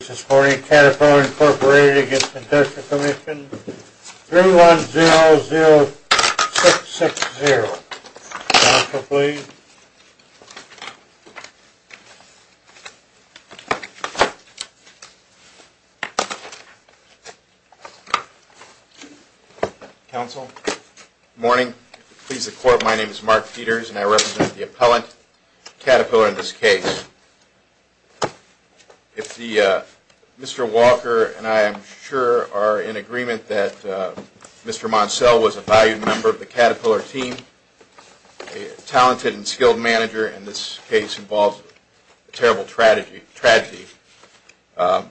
This morning, Caterpillar, Inc. v. Workers' Compensation Commission, 3100660. Counsel, please. Counsel? Good morning. Please, the Court, my name is Mark Peters, and I represent the appellant, Caterpillar, in this case. If Mr. Walker and I am sure are in agreement that Mr. Moncel was a valued member of the Caterpillar team, a talented and skilled manager, and this case involves a terrible tragedy, that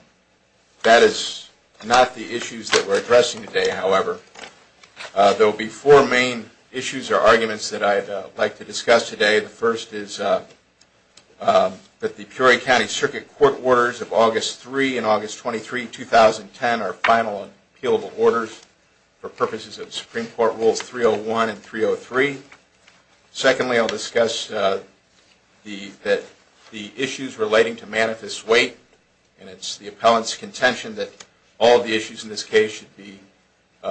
is not the issues that we're addressing today, however. There will be four main issues or arguments that I'd like to discuss today. The first is that the Peoria County Circuit Court orders of August 3 and August 23, 2010 are final and appealable orders for purposes of Supreme Court Rules 301 and 303. Secondly, I'll discuss the issues relating to manifest weight, and it's the appellant's contention that all of the issues in this case should be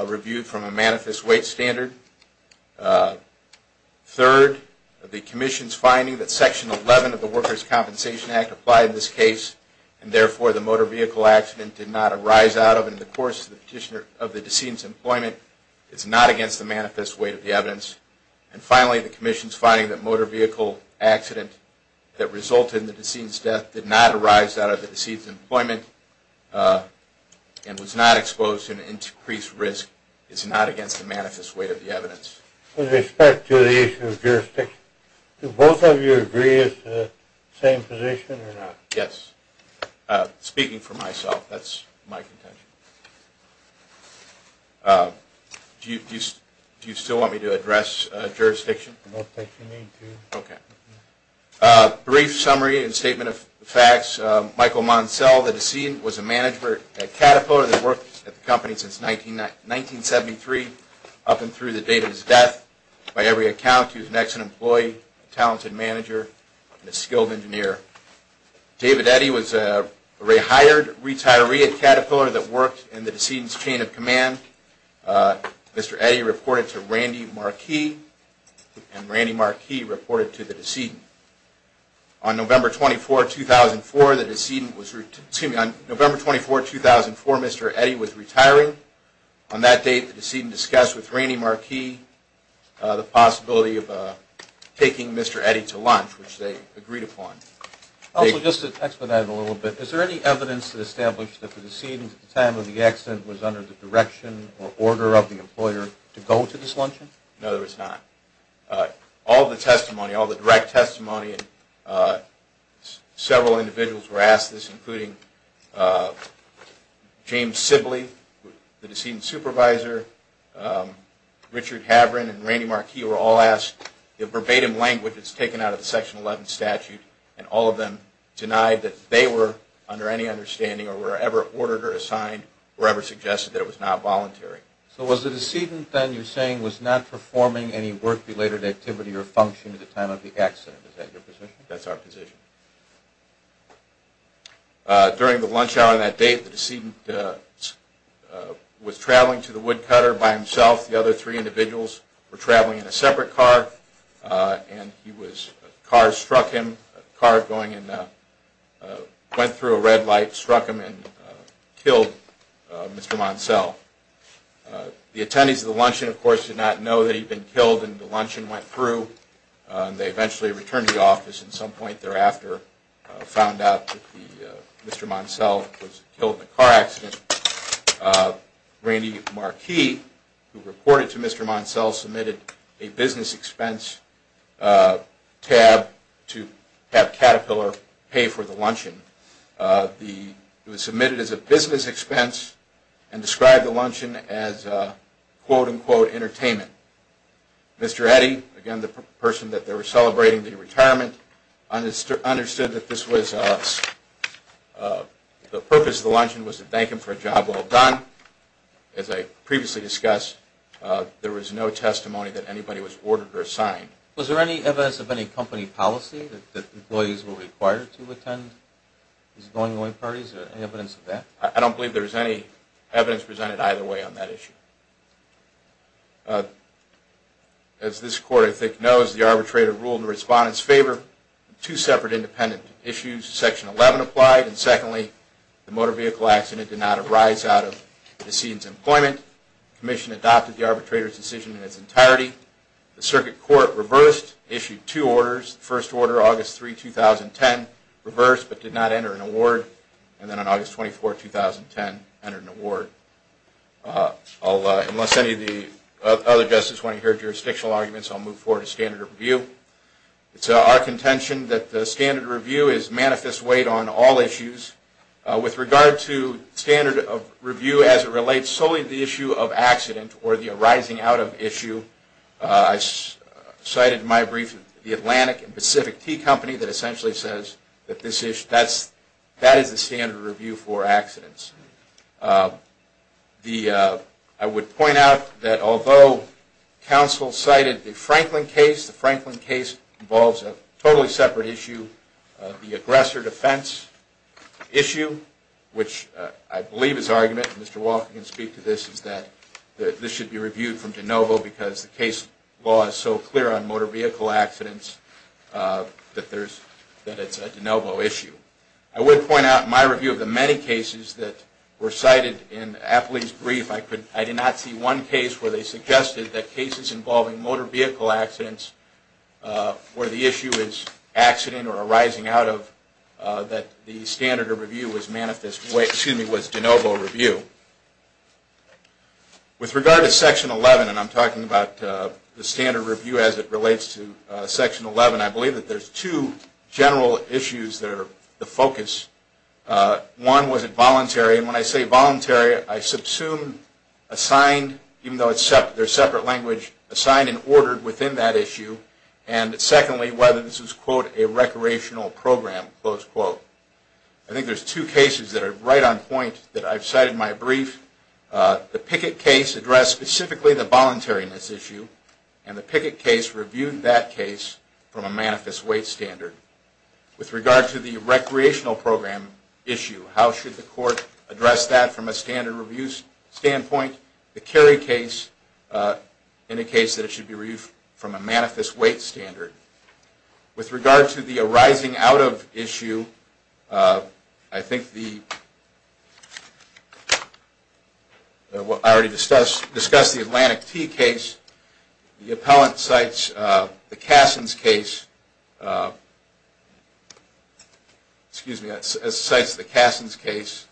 reviewed from a manifest weight standard. Third, the Commission's finding that Section 11 of the Workers' Compensation Act applied in this case, and therefore the motor vehicle accident did not arise out of and in the course of the decedent's employment is not against the manifest weight of the evidence. And finally, the Commission's finding that motor vehicle accident that resulted in the decedent's death did not arise out of the decedent's employment and was not exposed to an increased risk is not against the manifest weight of the evidence. With respect to the issue of jurisdiction, do both of you agree it's the same position or not? Yes. Speaking for myself, that's my contention. Do you still want me to address jurisdiction? Okay. Brief summary and statement of facts. Michael Moncel, the decedent, was a manager at Caterpillar that worked at the company since 1973 up and through the date of his death. By every account, he was an excellent employee, a talented manager, and a skilled engineer. David Eddy was a retired retiree at Caterpillar that worked in the decedent's chain of command. Mr. Eddy reported to Randy Marquis, and Randy Marquis reported to the decedent. On November 24, 2004, Mr. Eddy was retiring. On that date, the decedent discussed with Randy Marquis the possibility of taking Mr. Eddy to lunch, which they agreed upon. Also, just to expedite it a little bit, is there any evidence to establish that the decedent, at the time of the accident, was under the direction or order of the employer to go to this luncheon? No, there is not. All the testimony, all the direct testimony, and several individuals were asked this, including James Sibley, the decedent's supervisor, Richard Havren, and Randy Marquis were all asked in verbatim language that's taken out of the Section 11 statute, and all of them denied that they were under any understanding or were ever ordered or assigned or ever suggested that it was not voluntary. So was the decedent, then, you're saying, was not performing any work-related activity or function at the time of the accident? Is that your position? That's our position. During the lunch hour on that date, the decedent was traveling to the woodcutter by himself. The other three individuals were traveling in a separate car, and a car struck him. A car went through a red light, struck him, and killed Mr. Monselle. The attendees of the luncheon, of course, did not know that he'd been killed, and the luncheon went through. They eventually returned to the office, and at some point thereafter found out that Mr. Monselle was killed in a car accident. Randy Marquis, who reported to Mr. Monselle, submitted a business expense tab to have Caterpillar pay for the luncheon. It was submitted as a business expense and described the luncheon as, quote-unquote, entertainment. Mr. Eddy, again, the person that they were celebrating the retirement, understood that the purpose of the luncheon was to thank him for a job well done. As I previously discussed, there was no testimony that anybody was ordered or assigned. Was there any evidence of any company policy that employees were required to attend these going-away parties? Is there any evidence of that? I don't believe there's any evidence presented either way on that issue. As this Court, I think, knows, the arbitrator ruled in the respondent's favor. Two separate independent issues, section 11, applied. And secondly, the motor vehicle accident did not arise out of decedent's employment. The Commission adopted the arbitrator's decision in its entirety. The Circuit Court reversed, issued two orders. The first order, August 3, 2010, reversed but did not enter an award. And then on August 24, 2010, entered an award. Unless any of the other justices want to hear jurisdictional arguments, I'll move forward to standard review. It's our contention that the standard review is manifest weight on all issues. With regard to standard review as it relates solely to the issue of accident or the arising out of issue, I cited in my brief the Atlantic and Pacific Tea Company that essentially says that this issue, that is the standard review for accidents. I would point out that although counsel cited the Franklin case, the Franklin case involves a totally separate issue, the aggressor defense issue, which I believe is argument, Mr. Walker can speak to this, is that this should be reviewed from DeNovo because the case law is so clear on motor vehicle accidents that it's a DeNovo issue. I would point out in my review of the many cases that were cited in Apley's brief, I did not see one case where they suggested that cases involving motor vehicle accidents where the issue is accident or arising out of that the standard review was DeNovo review. With regard to Section 11, and I'm talking about the standard review as it relates to Section 11, I believe that there's two general issues that are the focus. One was involuntary, and when I say voluntary, I subsume assigned, even though there's separate language, assigned and ordered within that issue. And secondly, whether this was, quote, a recreational program, close quote. I think there's two cases that are right on point that I've cited in my brief. The Pickett case addressed specifically the voluntariness issue, and the Pickett case reviewed that case from a manifest weight standard. With regard to the recreational program issue, how should the court address that from a standard review standpoint? The Kerry case indicates that it should be reviewed from a manifest weight standard. With regard to the arising out of issue, I think the, I already discussed the Atlantic T case. The appellant cites the Cassin's case, excuse me, cites the Cassin's case.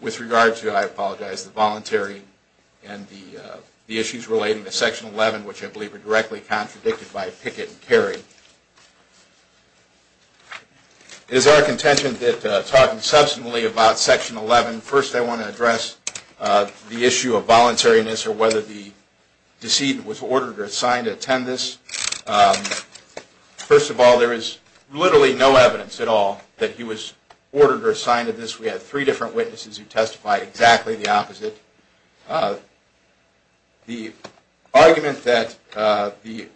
With regard to, I apologize, the voluntary and the issues relating to Section 11, which I believe are directly contradicted by Pickett and Kerry. Is there a contention that talking substantially about Section 11, first I want to address the issue of voluntariness or whether the decedent was ordered or assigned to attend this. First of all, there is literally no evidence at all that he was ordered or assigned to this. We had three different witnesses who testified exactly the opposite. The argument that the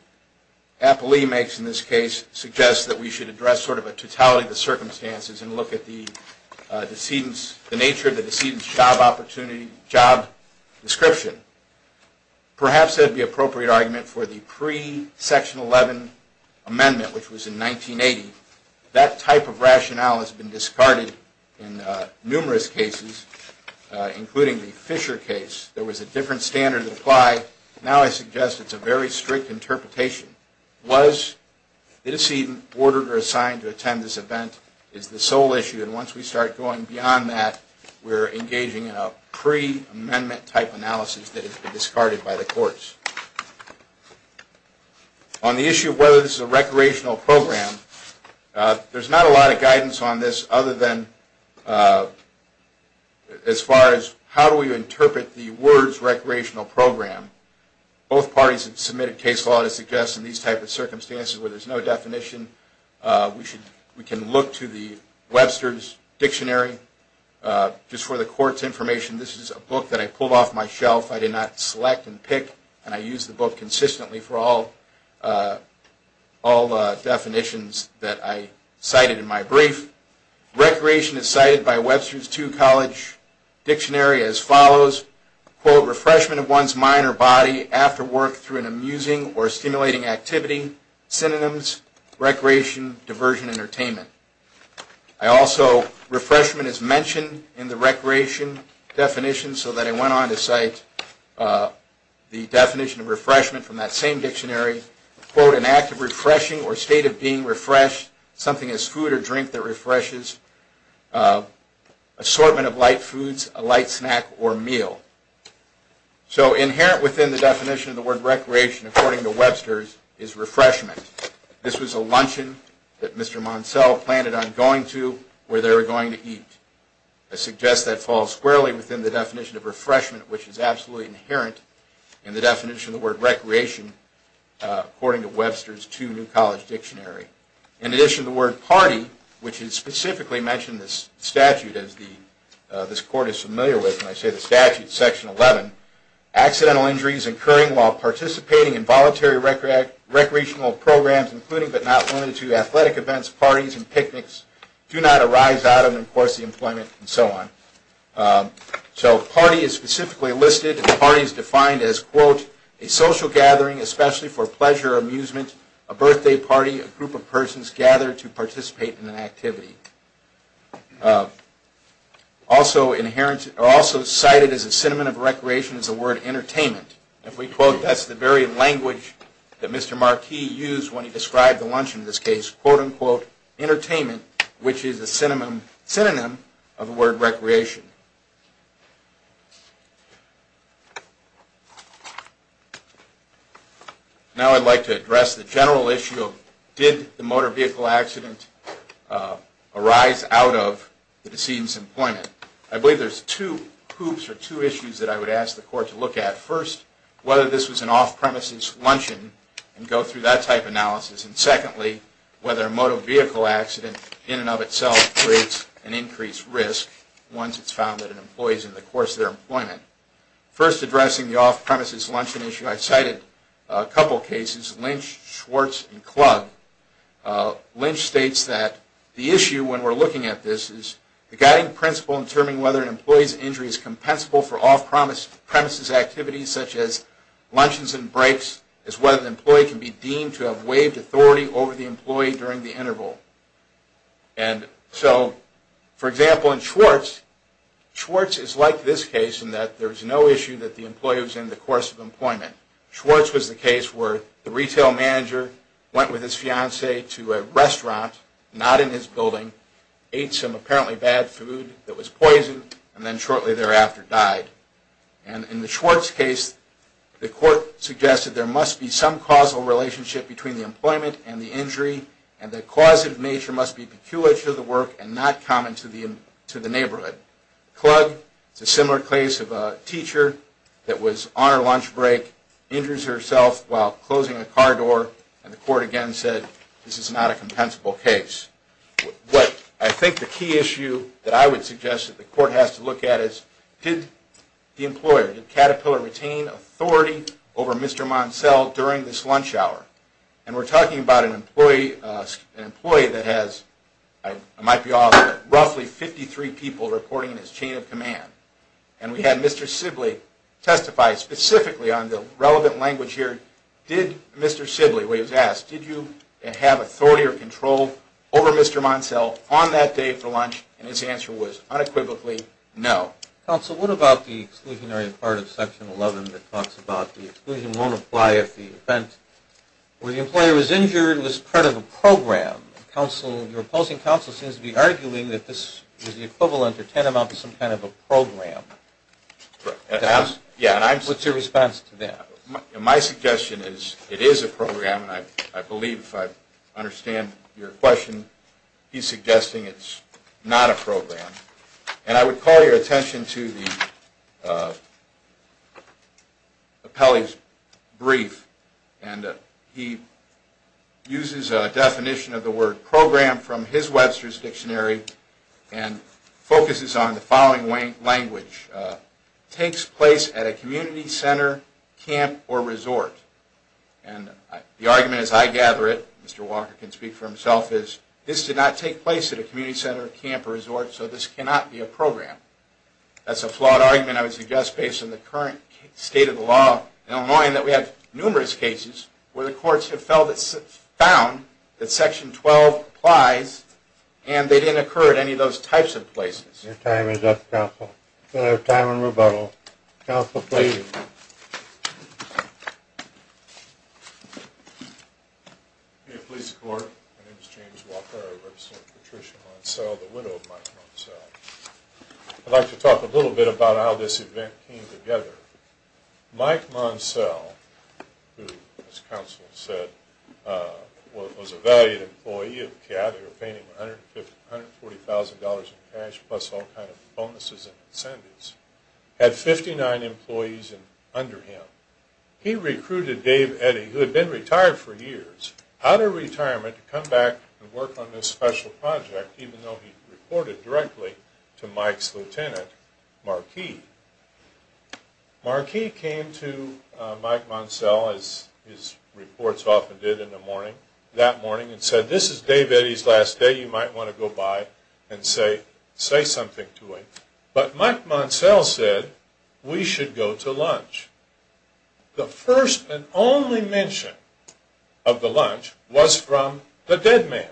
appellee makes in this case suggests that we should address sort of a totality of the circumstances and look at the decedent's, job opportunity, job description. Perhaps that would be an appropriate argument for the pre-Section 11 amendment, which was in 1980. That type of rationale has been discarded in numerous cases, including the Fisher case. There was a different standard that applied. Now I suggest it's a very strict interpretation. Was the decedent ordered or assigned to attend this event is the sole issue, and once we start going beyond that, we're engaging in a pre-amendment type analysis that has been discarded by the courts. On the issue of whether this is a recreational program, there's not a lot of guidance on this other than as far as how do we interpret the words recreational program. Both parties have submitted case law to suggest in these types of circumstances where there's no definition, we can look to the Webster's Dictionary. Just for the court's information, this is a book that I pulled off my shelf. I did not select and pick, and I use the book consistently for all definitions that I cited in my brief. Recreation is cited by Webster's II College Dictionary as follows, quote, refreshment of one's mind or body after work through an amusing or stimulating activity, synonyms, recreation, diversion, entertainment. I also, refreshment is mentioned in the recreation definition so that I went on to cite the definition of refreshment from that same dictionary, quote, an act of refreshing or state of being refreshed, something as food or drink that refreshes, assortment of light foods, a light snack or meal. So inherent within the definition of the word recreation according to Webster's is refreshment. This was a luncheon that Mr. Monselle planned on going to where they were going to eat. I suggest that falls squarely within the definition of refreshment, which is absolutely inherent in the definition of the word recreation according to Webster's II New College Dictionary. In addition, the word party, which is specifically mentioned in this statute as this court is familiar with, and I say the statute, Section 11, accidental injuries incurring while participating in voluntary recreational programs, including but not limited to athletic events, parties and picnics, do not arise out of and of course the employment and so on. So party is specifically listed and the party is defined as, quote, a social gathering especially for pleasure or amusement, a birthday party, a group of persons gathered to participate in an activity. Also cited as a synonym of recreation is the word entertainment. If we quote, that's the very language that Mr. Marquis used when he described the luncheon in this case, quote, unquote, entertainment, which is a synonym of the word recreation. Now I'd like to address the general issue of did the motor vehicle accident arise out of the decedent's employment. I believe there's two hoops or two issues that I would ask the court to look at. First, whether this was an off-premises luncheon and go through that type of analysis. And secondly, whether a motor vehicle accident in and of itself creates an increased risk once it's found that an employee is in the course of their employment. First, addressing the off-premises luncheon issue, I cited a couple cases, Lynch, Schwartz and Klug. Lynch states that the issue when we're looking at this is the guiding principle in determining whether an employee's injury is compensable for off-premises activities such as luncheons and breaks is whether the employee can be deemed to have waived authority over the employee during the interval. And so, for example, in Schwartz, Schwartz is like this case in that there's no issue that the employee was in the course of employment. Schwartz was the case where the retail manager went with his fiance to a restaurant, not in his building, ate some apparently bad food that was poison, and then shortly thereafter died. And in the Schwartz case, the court suggested there must be some causal relationship between the employment and the injury, and the causative nature must be peculiar to the work and not common to the neighborhood. Klug, it's a similar case of a teacher that was on her lunch break, injures herself while closing a car door, and the court again said this is not a compensable case. I think the key issue that I would suggest that the court has to look at is did the employer, did Caterpillar retain authority over Mr. Moncel during this lunch hour? And we're talking about an employee that has, I might be off, roughly 53 people reporting in his chain of command. And we had Mr. Sibley testify specifically on the relevant language here. Did Mr. Sibley, when he was asked, did you have authority or control over Mr. Moncel on that day for lunch? And his answer was unequivocally no. Counsel, what about the exclusionary part of section 11 that talks about the exclusion won't apply if the event where the employer was injured was part of a program? Counsel, your opposing counsel seems to be arguing that this is the equivalent or tantamount to some kind of a program. What's your response to that? My suggestion is it is a program, and I believe if I understand your question, he's suggesting it's not a program. And I would call your attention to the appellee's brief. And he uses a definition of the word program from his Webster's Dictionary and focuses on the following language. Takes place at a community center, camp, or resort. And the argument as I gather it, Mr. Walker can speak for himself, is this did not take place at a community center, camp, or resort, and therefore this cannot be a program. That's a flawed argument I would suggest based on the current state of the law in Illinois and that we have numerous cases where the courts have found that section 12 applies and they didn't occur at any of those types of places. Your time is up, counsel. Counsel, please. Thank you. May it please the court, my name is James Walker. I represent Patricia Monsell, the widow of Mike Monsell. I'd like to talk a little bit about how this event came together. Mike Monsell, who, as counsel said, was a valued employee of CAD, they were paying him $140,000 in cash plus all kinds of bonuses and incentives, had 59 employees under him. He recruited Dave Eddy, who had been retired for years, out of retirement to come back and work on this special project, even though he reported directly to Mike's lieutenant, Marquis. Marquis came to Mike Monsell, as his reports often did in the morning, that morning, and said, this is Dave Eddy's last day, you might want to go by and say something to him. But Mike Monsell said, we should go to lunch. The first and only mention of the lunch was from the dead man.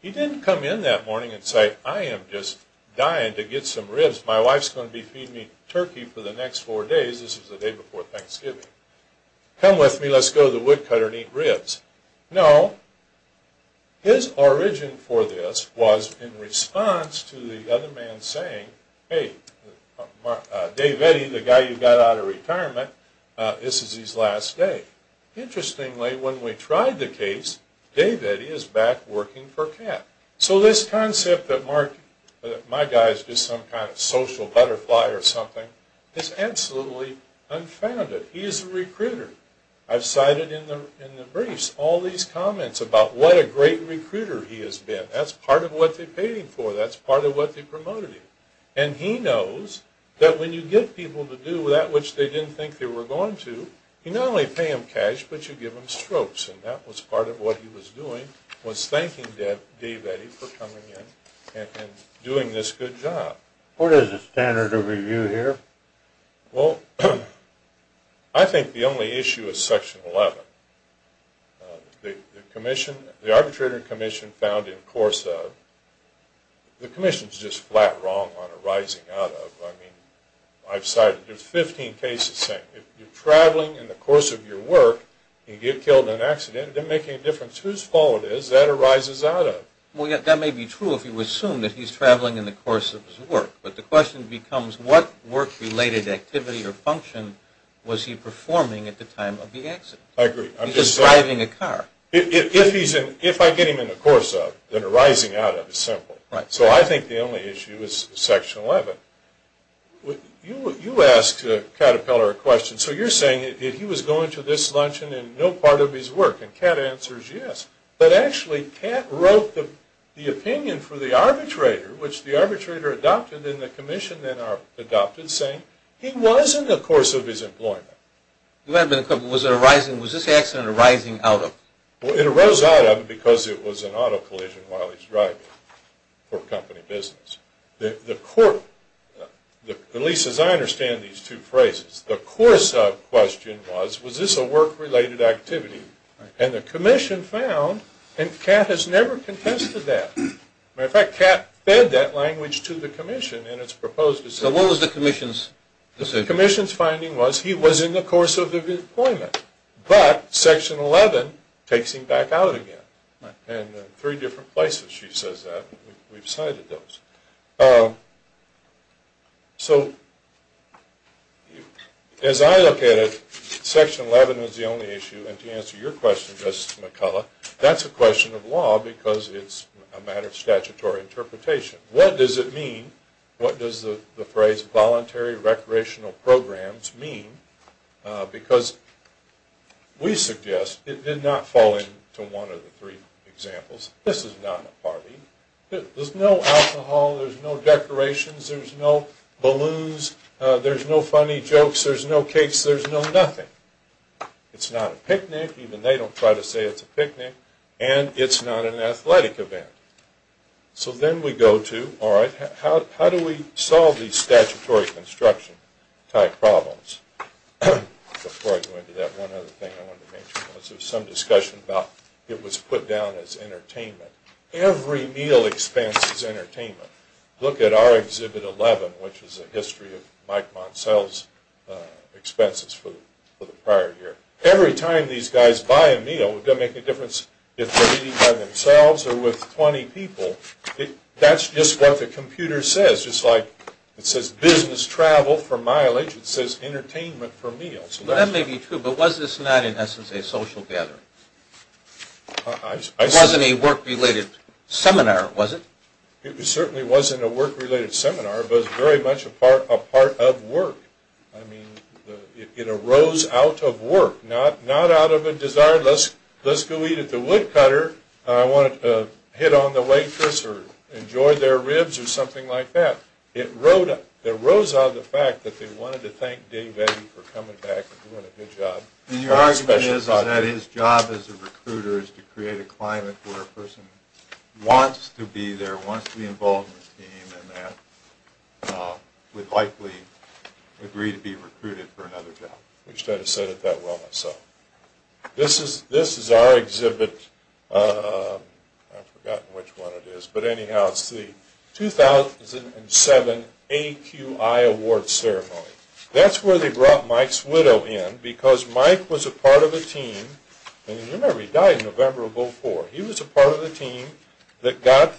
He didn't come in that morning and say, I am just dying to get some ribs. My wife's going to be feeding me turkey for the next four days. This was the day before Thanksgiving. Come with me, let's go to the woodcutter and eat ribs. No, his origin for this was in response to the other man saying, Dave Eddy, the guy you got out of retirement, this is his last day. Interestingly, when we tried the case, Dave Eddy is back working for CAD. So this concept that my guy is just some kind of social butterfly or something, is absolutely unfounded. He is a recruiter. I've cited in the briefs all these comments about what a great recruiter he has been. That's part of what they paid him for, that's part of what they promoted him. And he knows that when you give people to do that which they didn't think they were going to, you not only pay them cash, but you give them strokes. And that was part of what he was doing, was thanking Dave Eddy for coming in and doing this good job. What is the standard of review here? I think the only issue is section 11. The arbitrator commission found in course of, the commission is just flat wrong on arising out of. I've cited 15 cases saying, if you're traveling in the course of your work, and you get killed in an accident, it doesn't make any difference whose fault it is, that arises out of. That may be true if you assume that he's traveling in the course of his work. But the question becomes, what work related activity or function was he performing at the time of the accident? I agree. If I get him in the course of, then arising out of is simple. So I think the only issue is section 11. You asked Caterpillar a question. So you're saying that he was going to this luncheon in no part of his work, and Cat answers yes. But actually Cat wrote the opinion for the arbitrator, which the arbitrator adopted, and the commission then adopted, saying he was in the course of his employment. Was this accident arising out of? It arose out of because it was an auto collision while he was driving for company business. At least as I understand these two phrases, the course of question was, was this a work related activity? And the commission found, and Cat has never contested that. As a matter of fact, Cat fed that language to the commission in its proposed decision. So what was the commission's decision? The commission's finding was he was in the course of his employment, but section 11 takes him back out again. And in three different places she says that. We've cited those. So as I look at it, section 11 is the only issue. And to answer your question, Justice McCullough, that's a question of law because it's a matter of statutory interpretation. What does it mean? What does the phrase voluntary recreational programs mean? Because we suggest it did not fall into one of the three examples. This is not a party. There's no alcohol. There's no decorations. There's no balloons. There's no funny jokes. There's no cakes. There's no nothing. It's not a picnic. Even they don't try to say it's a picnic. And it's not an athletic event. So then we go to, all right, how do we solve these statutory construction type problems? Before I go into that, one other thing I wanted to mention was there was some discussion about it was put down as entertainment. Every meal expense is entertainment. Look at our Exhibit 11, which is a history of Mike Moncel's expenses for the prior year. Every time these guys buy a meal, it doesn't make a difference if they're eating by themselves or with 20 people. That's just what the computer says. It says business travel for mileage. It says entertainment for meals. That may be true, but was this not in essence a social gathering? It wasn't a work-related seminar, was it? It certainly wasn't a work-related seminar, but it was very much a part of work. I mean, it arose out of work, not out of a desire, let's go eat at the woodcutter. I want to hit on the waitress or enjoy their ribs or something like that. It rose out of the fact that they wanted to thank Dave Eddy for coming back and doing a good job. And your argument is that his job as a recruiter is to create a climate where a person wants to be there, wants to be involved in the team, and that would likely agree to be recruited for another job. I wish I had said it that well myself. This is our exhibit. I've forgotten which one it is. But anyhow, it's the 2007 AQI Award Ceremony. That's where they brought Mike's widow in, because Mike was a part of a team. And you remember, he died in November of 2004. He was a part of a team that got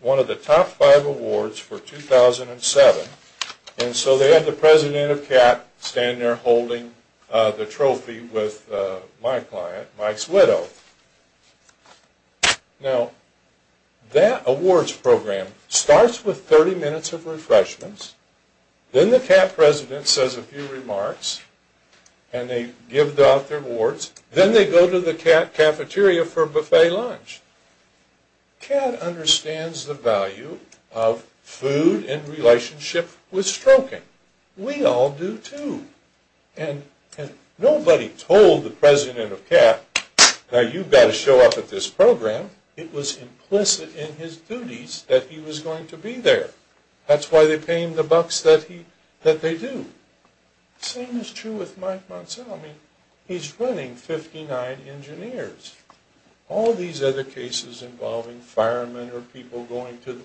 one of the top five awards for 2007. And so they had the president of CAT stand there holding the trophy with my client, Mike's widow. Now, that awards program starts with 30 minutes of refreshments. Then the CAT president says a few remarks. And they give out their awards. Then they go to the CAT cafeteria for a buffet lunch. CAT understands the value of food in relationship with stroking. We all do, too. And nobody told the president of CAT, now you've got to show up at this program. Now, it was implicit in his duties that he was going to be there. That's why they pay him the bucks that they do. Same is true with Mike Monsanto. I mean, he's running 59 engineers. All these other cases involving firemen or people going to,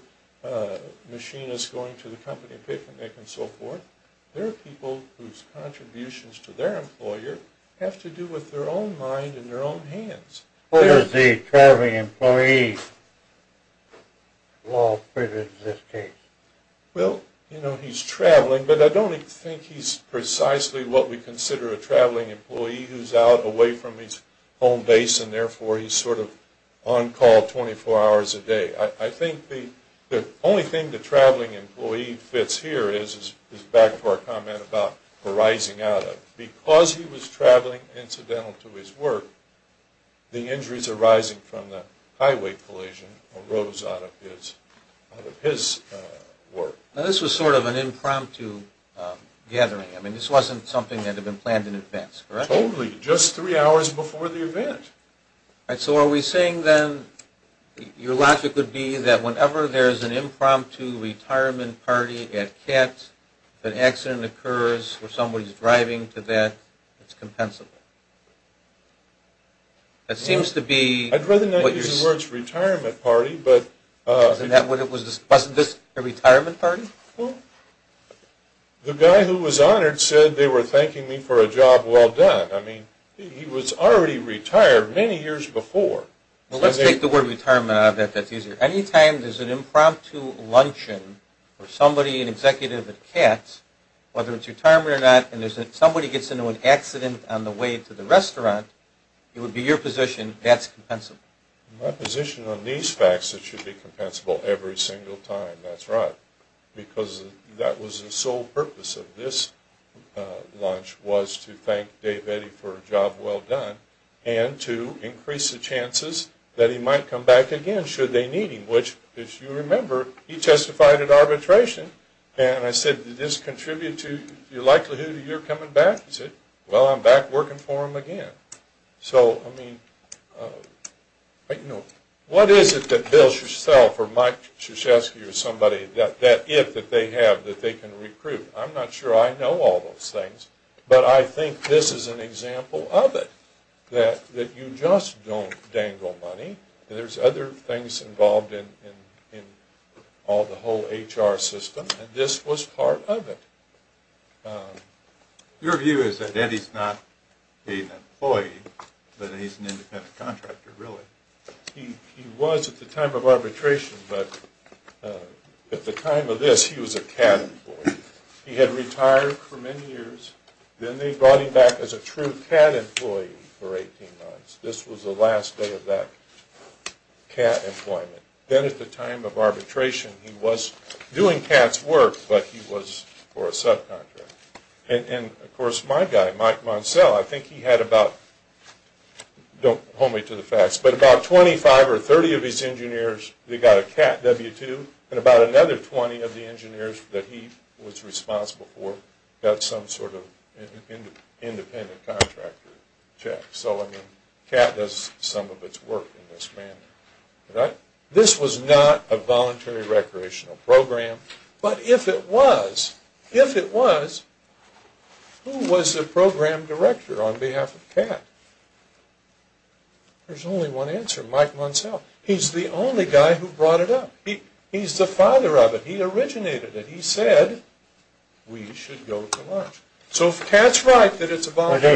machinists going to the company and so forth, there are people whose contributions to their employer have to do with their own mind and their own hands. Well, you know, he's traveling. But I don't think he's precisely what we consider a traveling employee who's out away from his home base and therefore he's sort of on call 24 hours a day. I think the only thing the traveling employee fits here is back to our comment about arising out of. Because he was traveling incidental to his work, the injuries arising from the highway collision arose out of his work. Now, this was sort of an impromptu gathering. I mean, this wasn't something that had been planned in advance, correct? Totally. Just three hours before the event. So are we saying then, your logic would be that whenever there's an impromptu retirement party at CAT, if an accident occurs where somebody's driving to that, it's compensable? I'd rather not use the words retirement party, but... Wasn't this a retirement party? Well, the guy who was honored said they were thanking me for a job well done. I mean, he was already retired many years before. Well, let's take the word retirement out of that. That's easier. Anytime there's an impromptu luncheon for somebody, an executive at CAT, whether it's retirement or not, and somebody gets into an accident on the way to the restaurant, it would be your position, that's compensable. My position on these facts is it should be compensable every single time, that's right. Because that was the sole purpose of this lunch, was to thank Dave Eddy for a job well done, and to increase the chances that he might come back again, should they need him. Which, if you remember, he testified at arbitration, and I said, did this contribute to the likelihood of your coming back? He said, well, I'm back working for him again. So, I mean, what is it that Bill or Mike or somebody, that if that they have that they can recruit? I'm not sure I know all those things, but I think this is an example of it, that you just don't dangle money. There's other things involved in all the whole HR system, and this was part of it. Your view is that Eddy's not an employee, but he's an independent contractor, really? He was at the time of arbitration, but at the time of this, he was a CAT employee. He had retired for many years, then they brought him back as a true CAT employee for 18 months. This was the last day of that CAT employment. Then at the time of arbitration, he was doing CAT's work, but he was for a subcontractor. And, of course, my guy, Mike Moncel, I think he had about, don't hold me to the facts, but about 25 or 30 of his engineers, they got a CAT W-2, and about another 20 of the engineers that he was responsible for got some sort of independent contractor check. So, I mean, CAT does some of its work in this manner. This was not a voluntary recreational program, but if it was, if it was, who was the program director on behalf of CAT? There's only one answer, Mike Moncel. He's the only guy who brought it up. He's the father of it. He originated it. And he said, we should go to lunch. So CAT's right that it's a voluntary.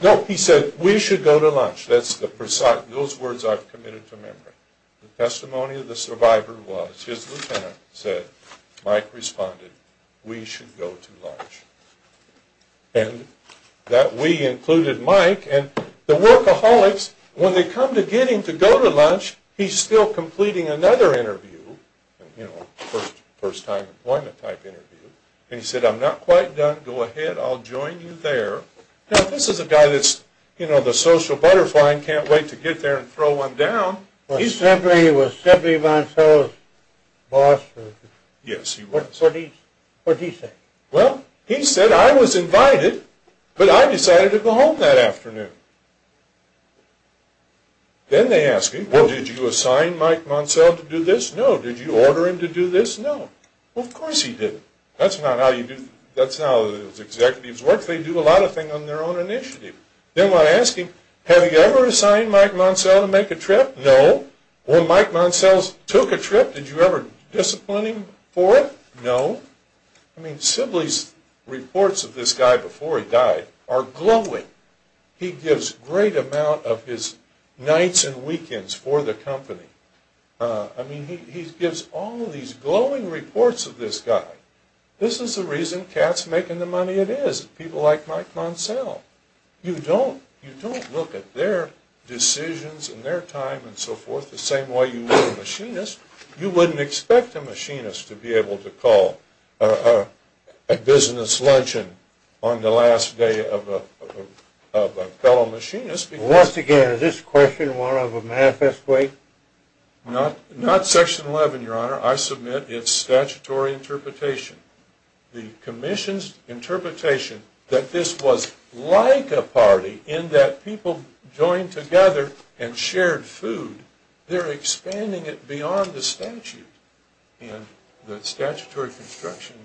No, he said, we should go to lunch. The testimony of the survivor was his lieutenant said, Mike responded, we should go to lunch. And that we included Mike. And the workaholics, when they come to get him to go to lunch, he's still completing another interview. You know, first time employment type interview. And he said, I'm not quite done. Go ahead. I'll join you there. Now, this is a guy that's, you know, the social butterfly and can't wait to get there and throw one down. He simply was simply Moncel's boss. What did he say? Well, he said, I was invited, but I decided to go home that afternoon. Then they asked him, well, did you assign Mike Moncel to do this? No. Did you order him to do this? No. Of course he didn't. That's not how you do, that's not how executives work. They do a lot of things on their own initiative. Then when I asked him, have you ever assigned Mike Moncel to make a trip? No. When Mike Moncel took a trip, did you ever discipline him for it? No. I mean, Sibley's reports of this guy before he died are glowing. He gives great amount of his nights and weekends for the company. I mean, he gives all of these glowing reports of this guy. This is the reason Cat's making the money it is, people like Mike Moncel. You don't look at their decisions and their time and so forth the same way you would a machinist. You wouldn't expect a machinist to be able to call a business luncheon on the last day of a fellow machinist. Once again, is this question one of a manifest way? Not section 11, your honor. I submit it's statutory interpretation. The commission's interpretation that this was like a party in that people joined together and shared food. They're expanding it beyond the statute and the statutory construction.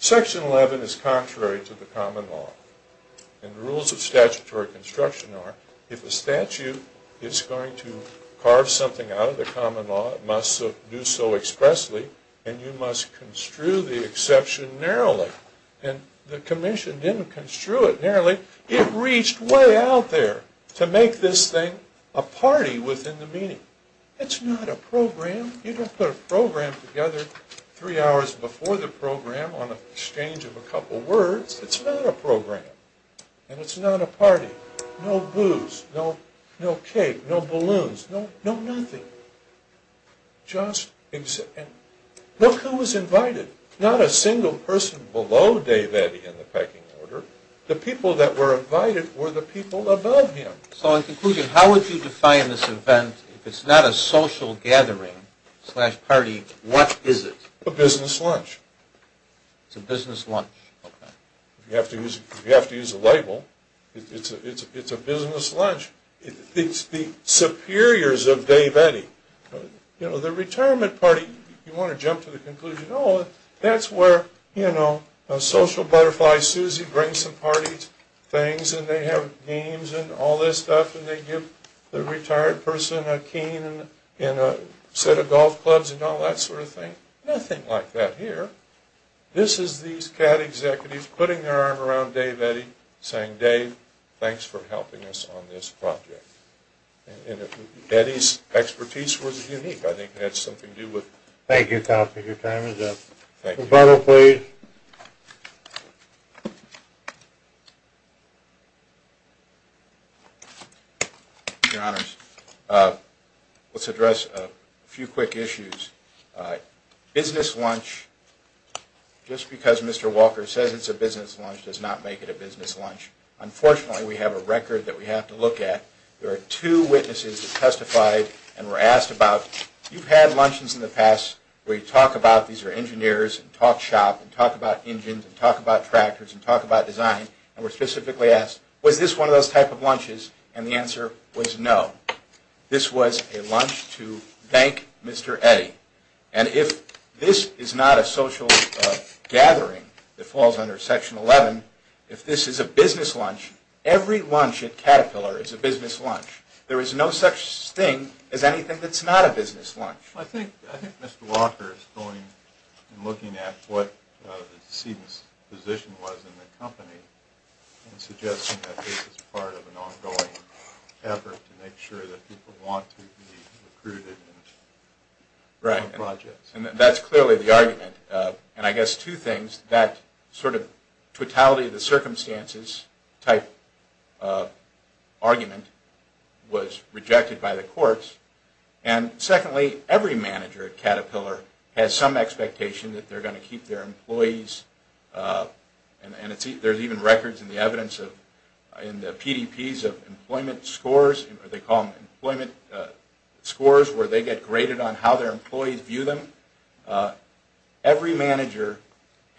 Section 11 is contrary to the common law. And the rules of statutory construction are, if a statute is going to carve something out of the common law, it must do so expressly and you must construe the exception narrowly. And the commission didn't construe it narrowly. It reached way out there to make this thing a party within the meeting. It's not a program. You don't put a program together three hours before the program on an exchange of a couple words. It's not a program and it's not a party. No booze, no cake, no balloons, no nothing. Look who was invited. Not a single person below Dave Eddy in the pecking order. The people that were invited were the people above him. So in conclusion, how would you define this event? If it's not a social gathering slash party, what is it? A business lunch. It's a business lunch. You have to use a label. It's a business lunch. It's the superiors of Dave Eddy. You know, the retirement party, you want to jump to the conclusion, oh, that's where, you know, social butterfly Susie brings some party things and they have games and all this stuff and they give the retired person a cane and a set of golf clubs and all that sort of thing. Nothing like that here. This is these CAT executives putting their arm around Dave Eddy saying, Dave, thanks for helping us on this project. And if Eddy's expertise was unique, I think it had something to do with... Thank you, Tom, for your time. Thank you. Rebuttal, please. Thank you, Your Honors. Let's address a few quick issues. Business lunch, just because Mr. Walker says it's a business lunch, does not make it a business lunch. Unfortunately, we have a record that we have to look at. There are two witnesses that testified and were asked about, you've had lunches in the past where you talk about, these are engineers, and talk shop and talk about engines and talk about tractors and talk about design, and were specifically asked, was this one of those type of lunches? And the answer was no. This was a lunch to thank Mr. Eddy. And if this is not a social gathering that falls under Section 11, if this is a business lunch, every lunch at Caterpillar is a business lunch. There is no such thing as anything that's not a business lunch. I think Mr. Walker is going and looking at what the position was in the company and suggesting that this is part of an ongoing effort to make sure that people want to be recruited. Right. And that's clearly the argument. And I guess two things, that sort of totality of the circumstances type argument was rejected by the courts. And secondly, every manager at Caterpillar has some expectation that they're going to keep their employees, and there's even records in the PDPs of employment scores, or they call them employment scores, where they get graded on how their employees view them. Every manager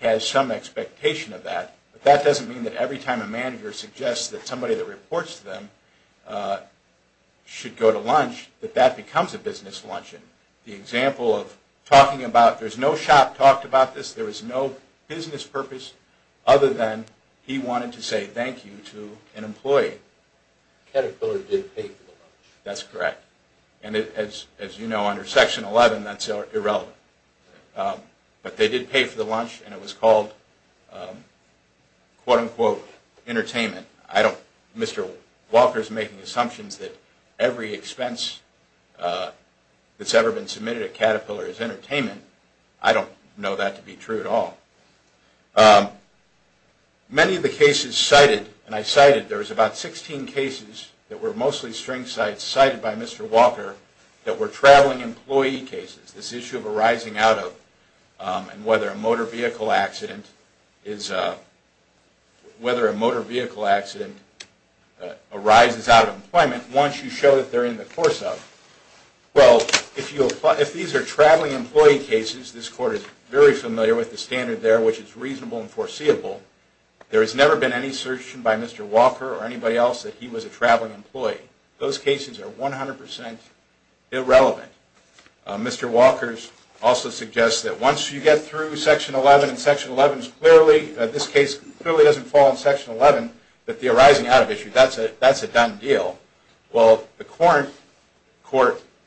has some expectation of that. But that doesn't mean that every time a manager suggests that somebody that reports to them should go to lunch, that that becomes a business lunch. The example of talking about, there's no shop talked about this, there is no business purpose, other than he wanted to say thank you to an employee. Caterpillar did pay for the lunch. That's correct. And as you know, under Section 11, that's irrelevant. But they did pay for the lunch, and it was called, quote, unquote, entertainment. Mr. Walker's making assumptions that every expense that's ever been submitted at Caterpillar is entertainment. I don't know that to be true at all. Many of the cases cited, and I cited, there was about 16 cases that were mostly string sites cited by Mr. Walker that were traveling employee cases. This issue of arising out of and whether a motor vehicle accident arises out of employment once you show that they're in the course of. Well, if these are traveling employee cases, this Court is very familiar with the standard there, which is reasonable and foreseeable. There has never been any assertion by Mr. Walker or anybody else that he was a traveling employee. Those cases are 100% irrelevant. Mr. Walker's also suggests that once you get through Section 11, and Section 11 is clearly, this case clearly doesn't fall in Section 11, that the arising out of issue, that's a done deal. Well, the Court, the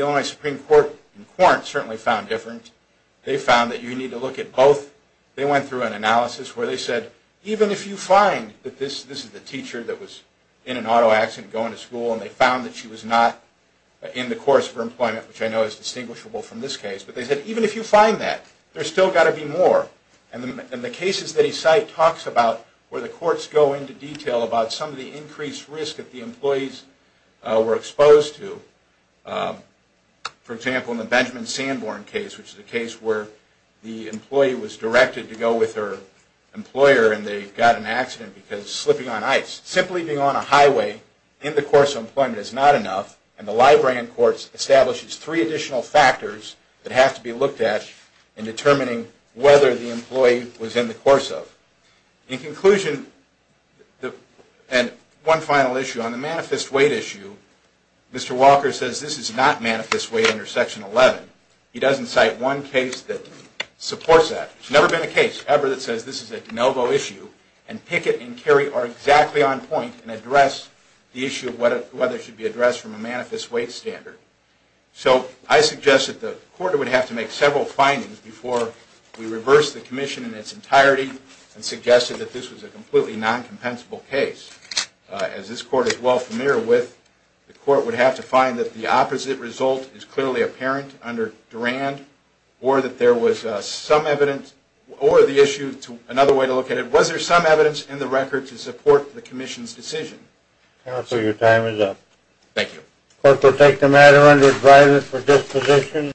Illinois Supreme Court and Quarant certainly found different. They found that you need to look at both. They went through an analysis where they said, even if you find that this is the teacher that was in an auto accident going to school, and they found that she was not in the course of her employment, which I know is distinguishable from this case. But they said, even if you find that, there's still got to be more. And the cases that he cite talks about where the Courts go into detail about some of the increased risk that the employees were exposed to. For example, in the Benjamin Sanborn case, which is a case where the employee was directed to go with her employer and they got in an accident because slipping on ice. Simply being on a highway in the course of employment is not enough, and the Library and Courts establishes three additional factors that have to be looked at in determining whether the employee was in the course of. In conclusion, and one final issue, on the manifest weight issue, Mr. Walker says this is not manifest weight under Section 11. He doesn't cite one case that supports that. There's never been a case ever that says this is a de novo issue, and Pickett and Carey are exactly on point and address the issue of whether it should be addressed from a manifest weight standard. So I suggest that the Court would have to make several findings before we reverse the Commission in its entirety and suggest that this was a completely non-compensable case. As this Court is well familiar with, the Court would have to find that the opposite result is clearly apparent under Durand, or that there was some evidence, or the issue, another way to look at it, was there some evidence in the record to support the Commission's decision. Counsel, your time is up. Thank you. The Court will take the matter under advisory for disposition.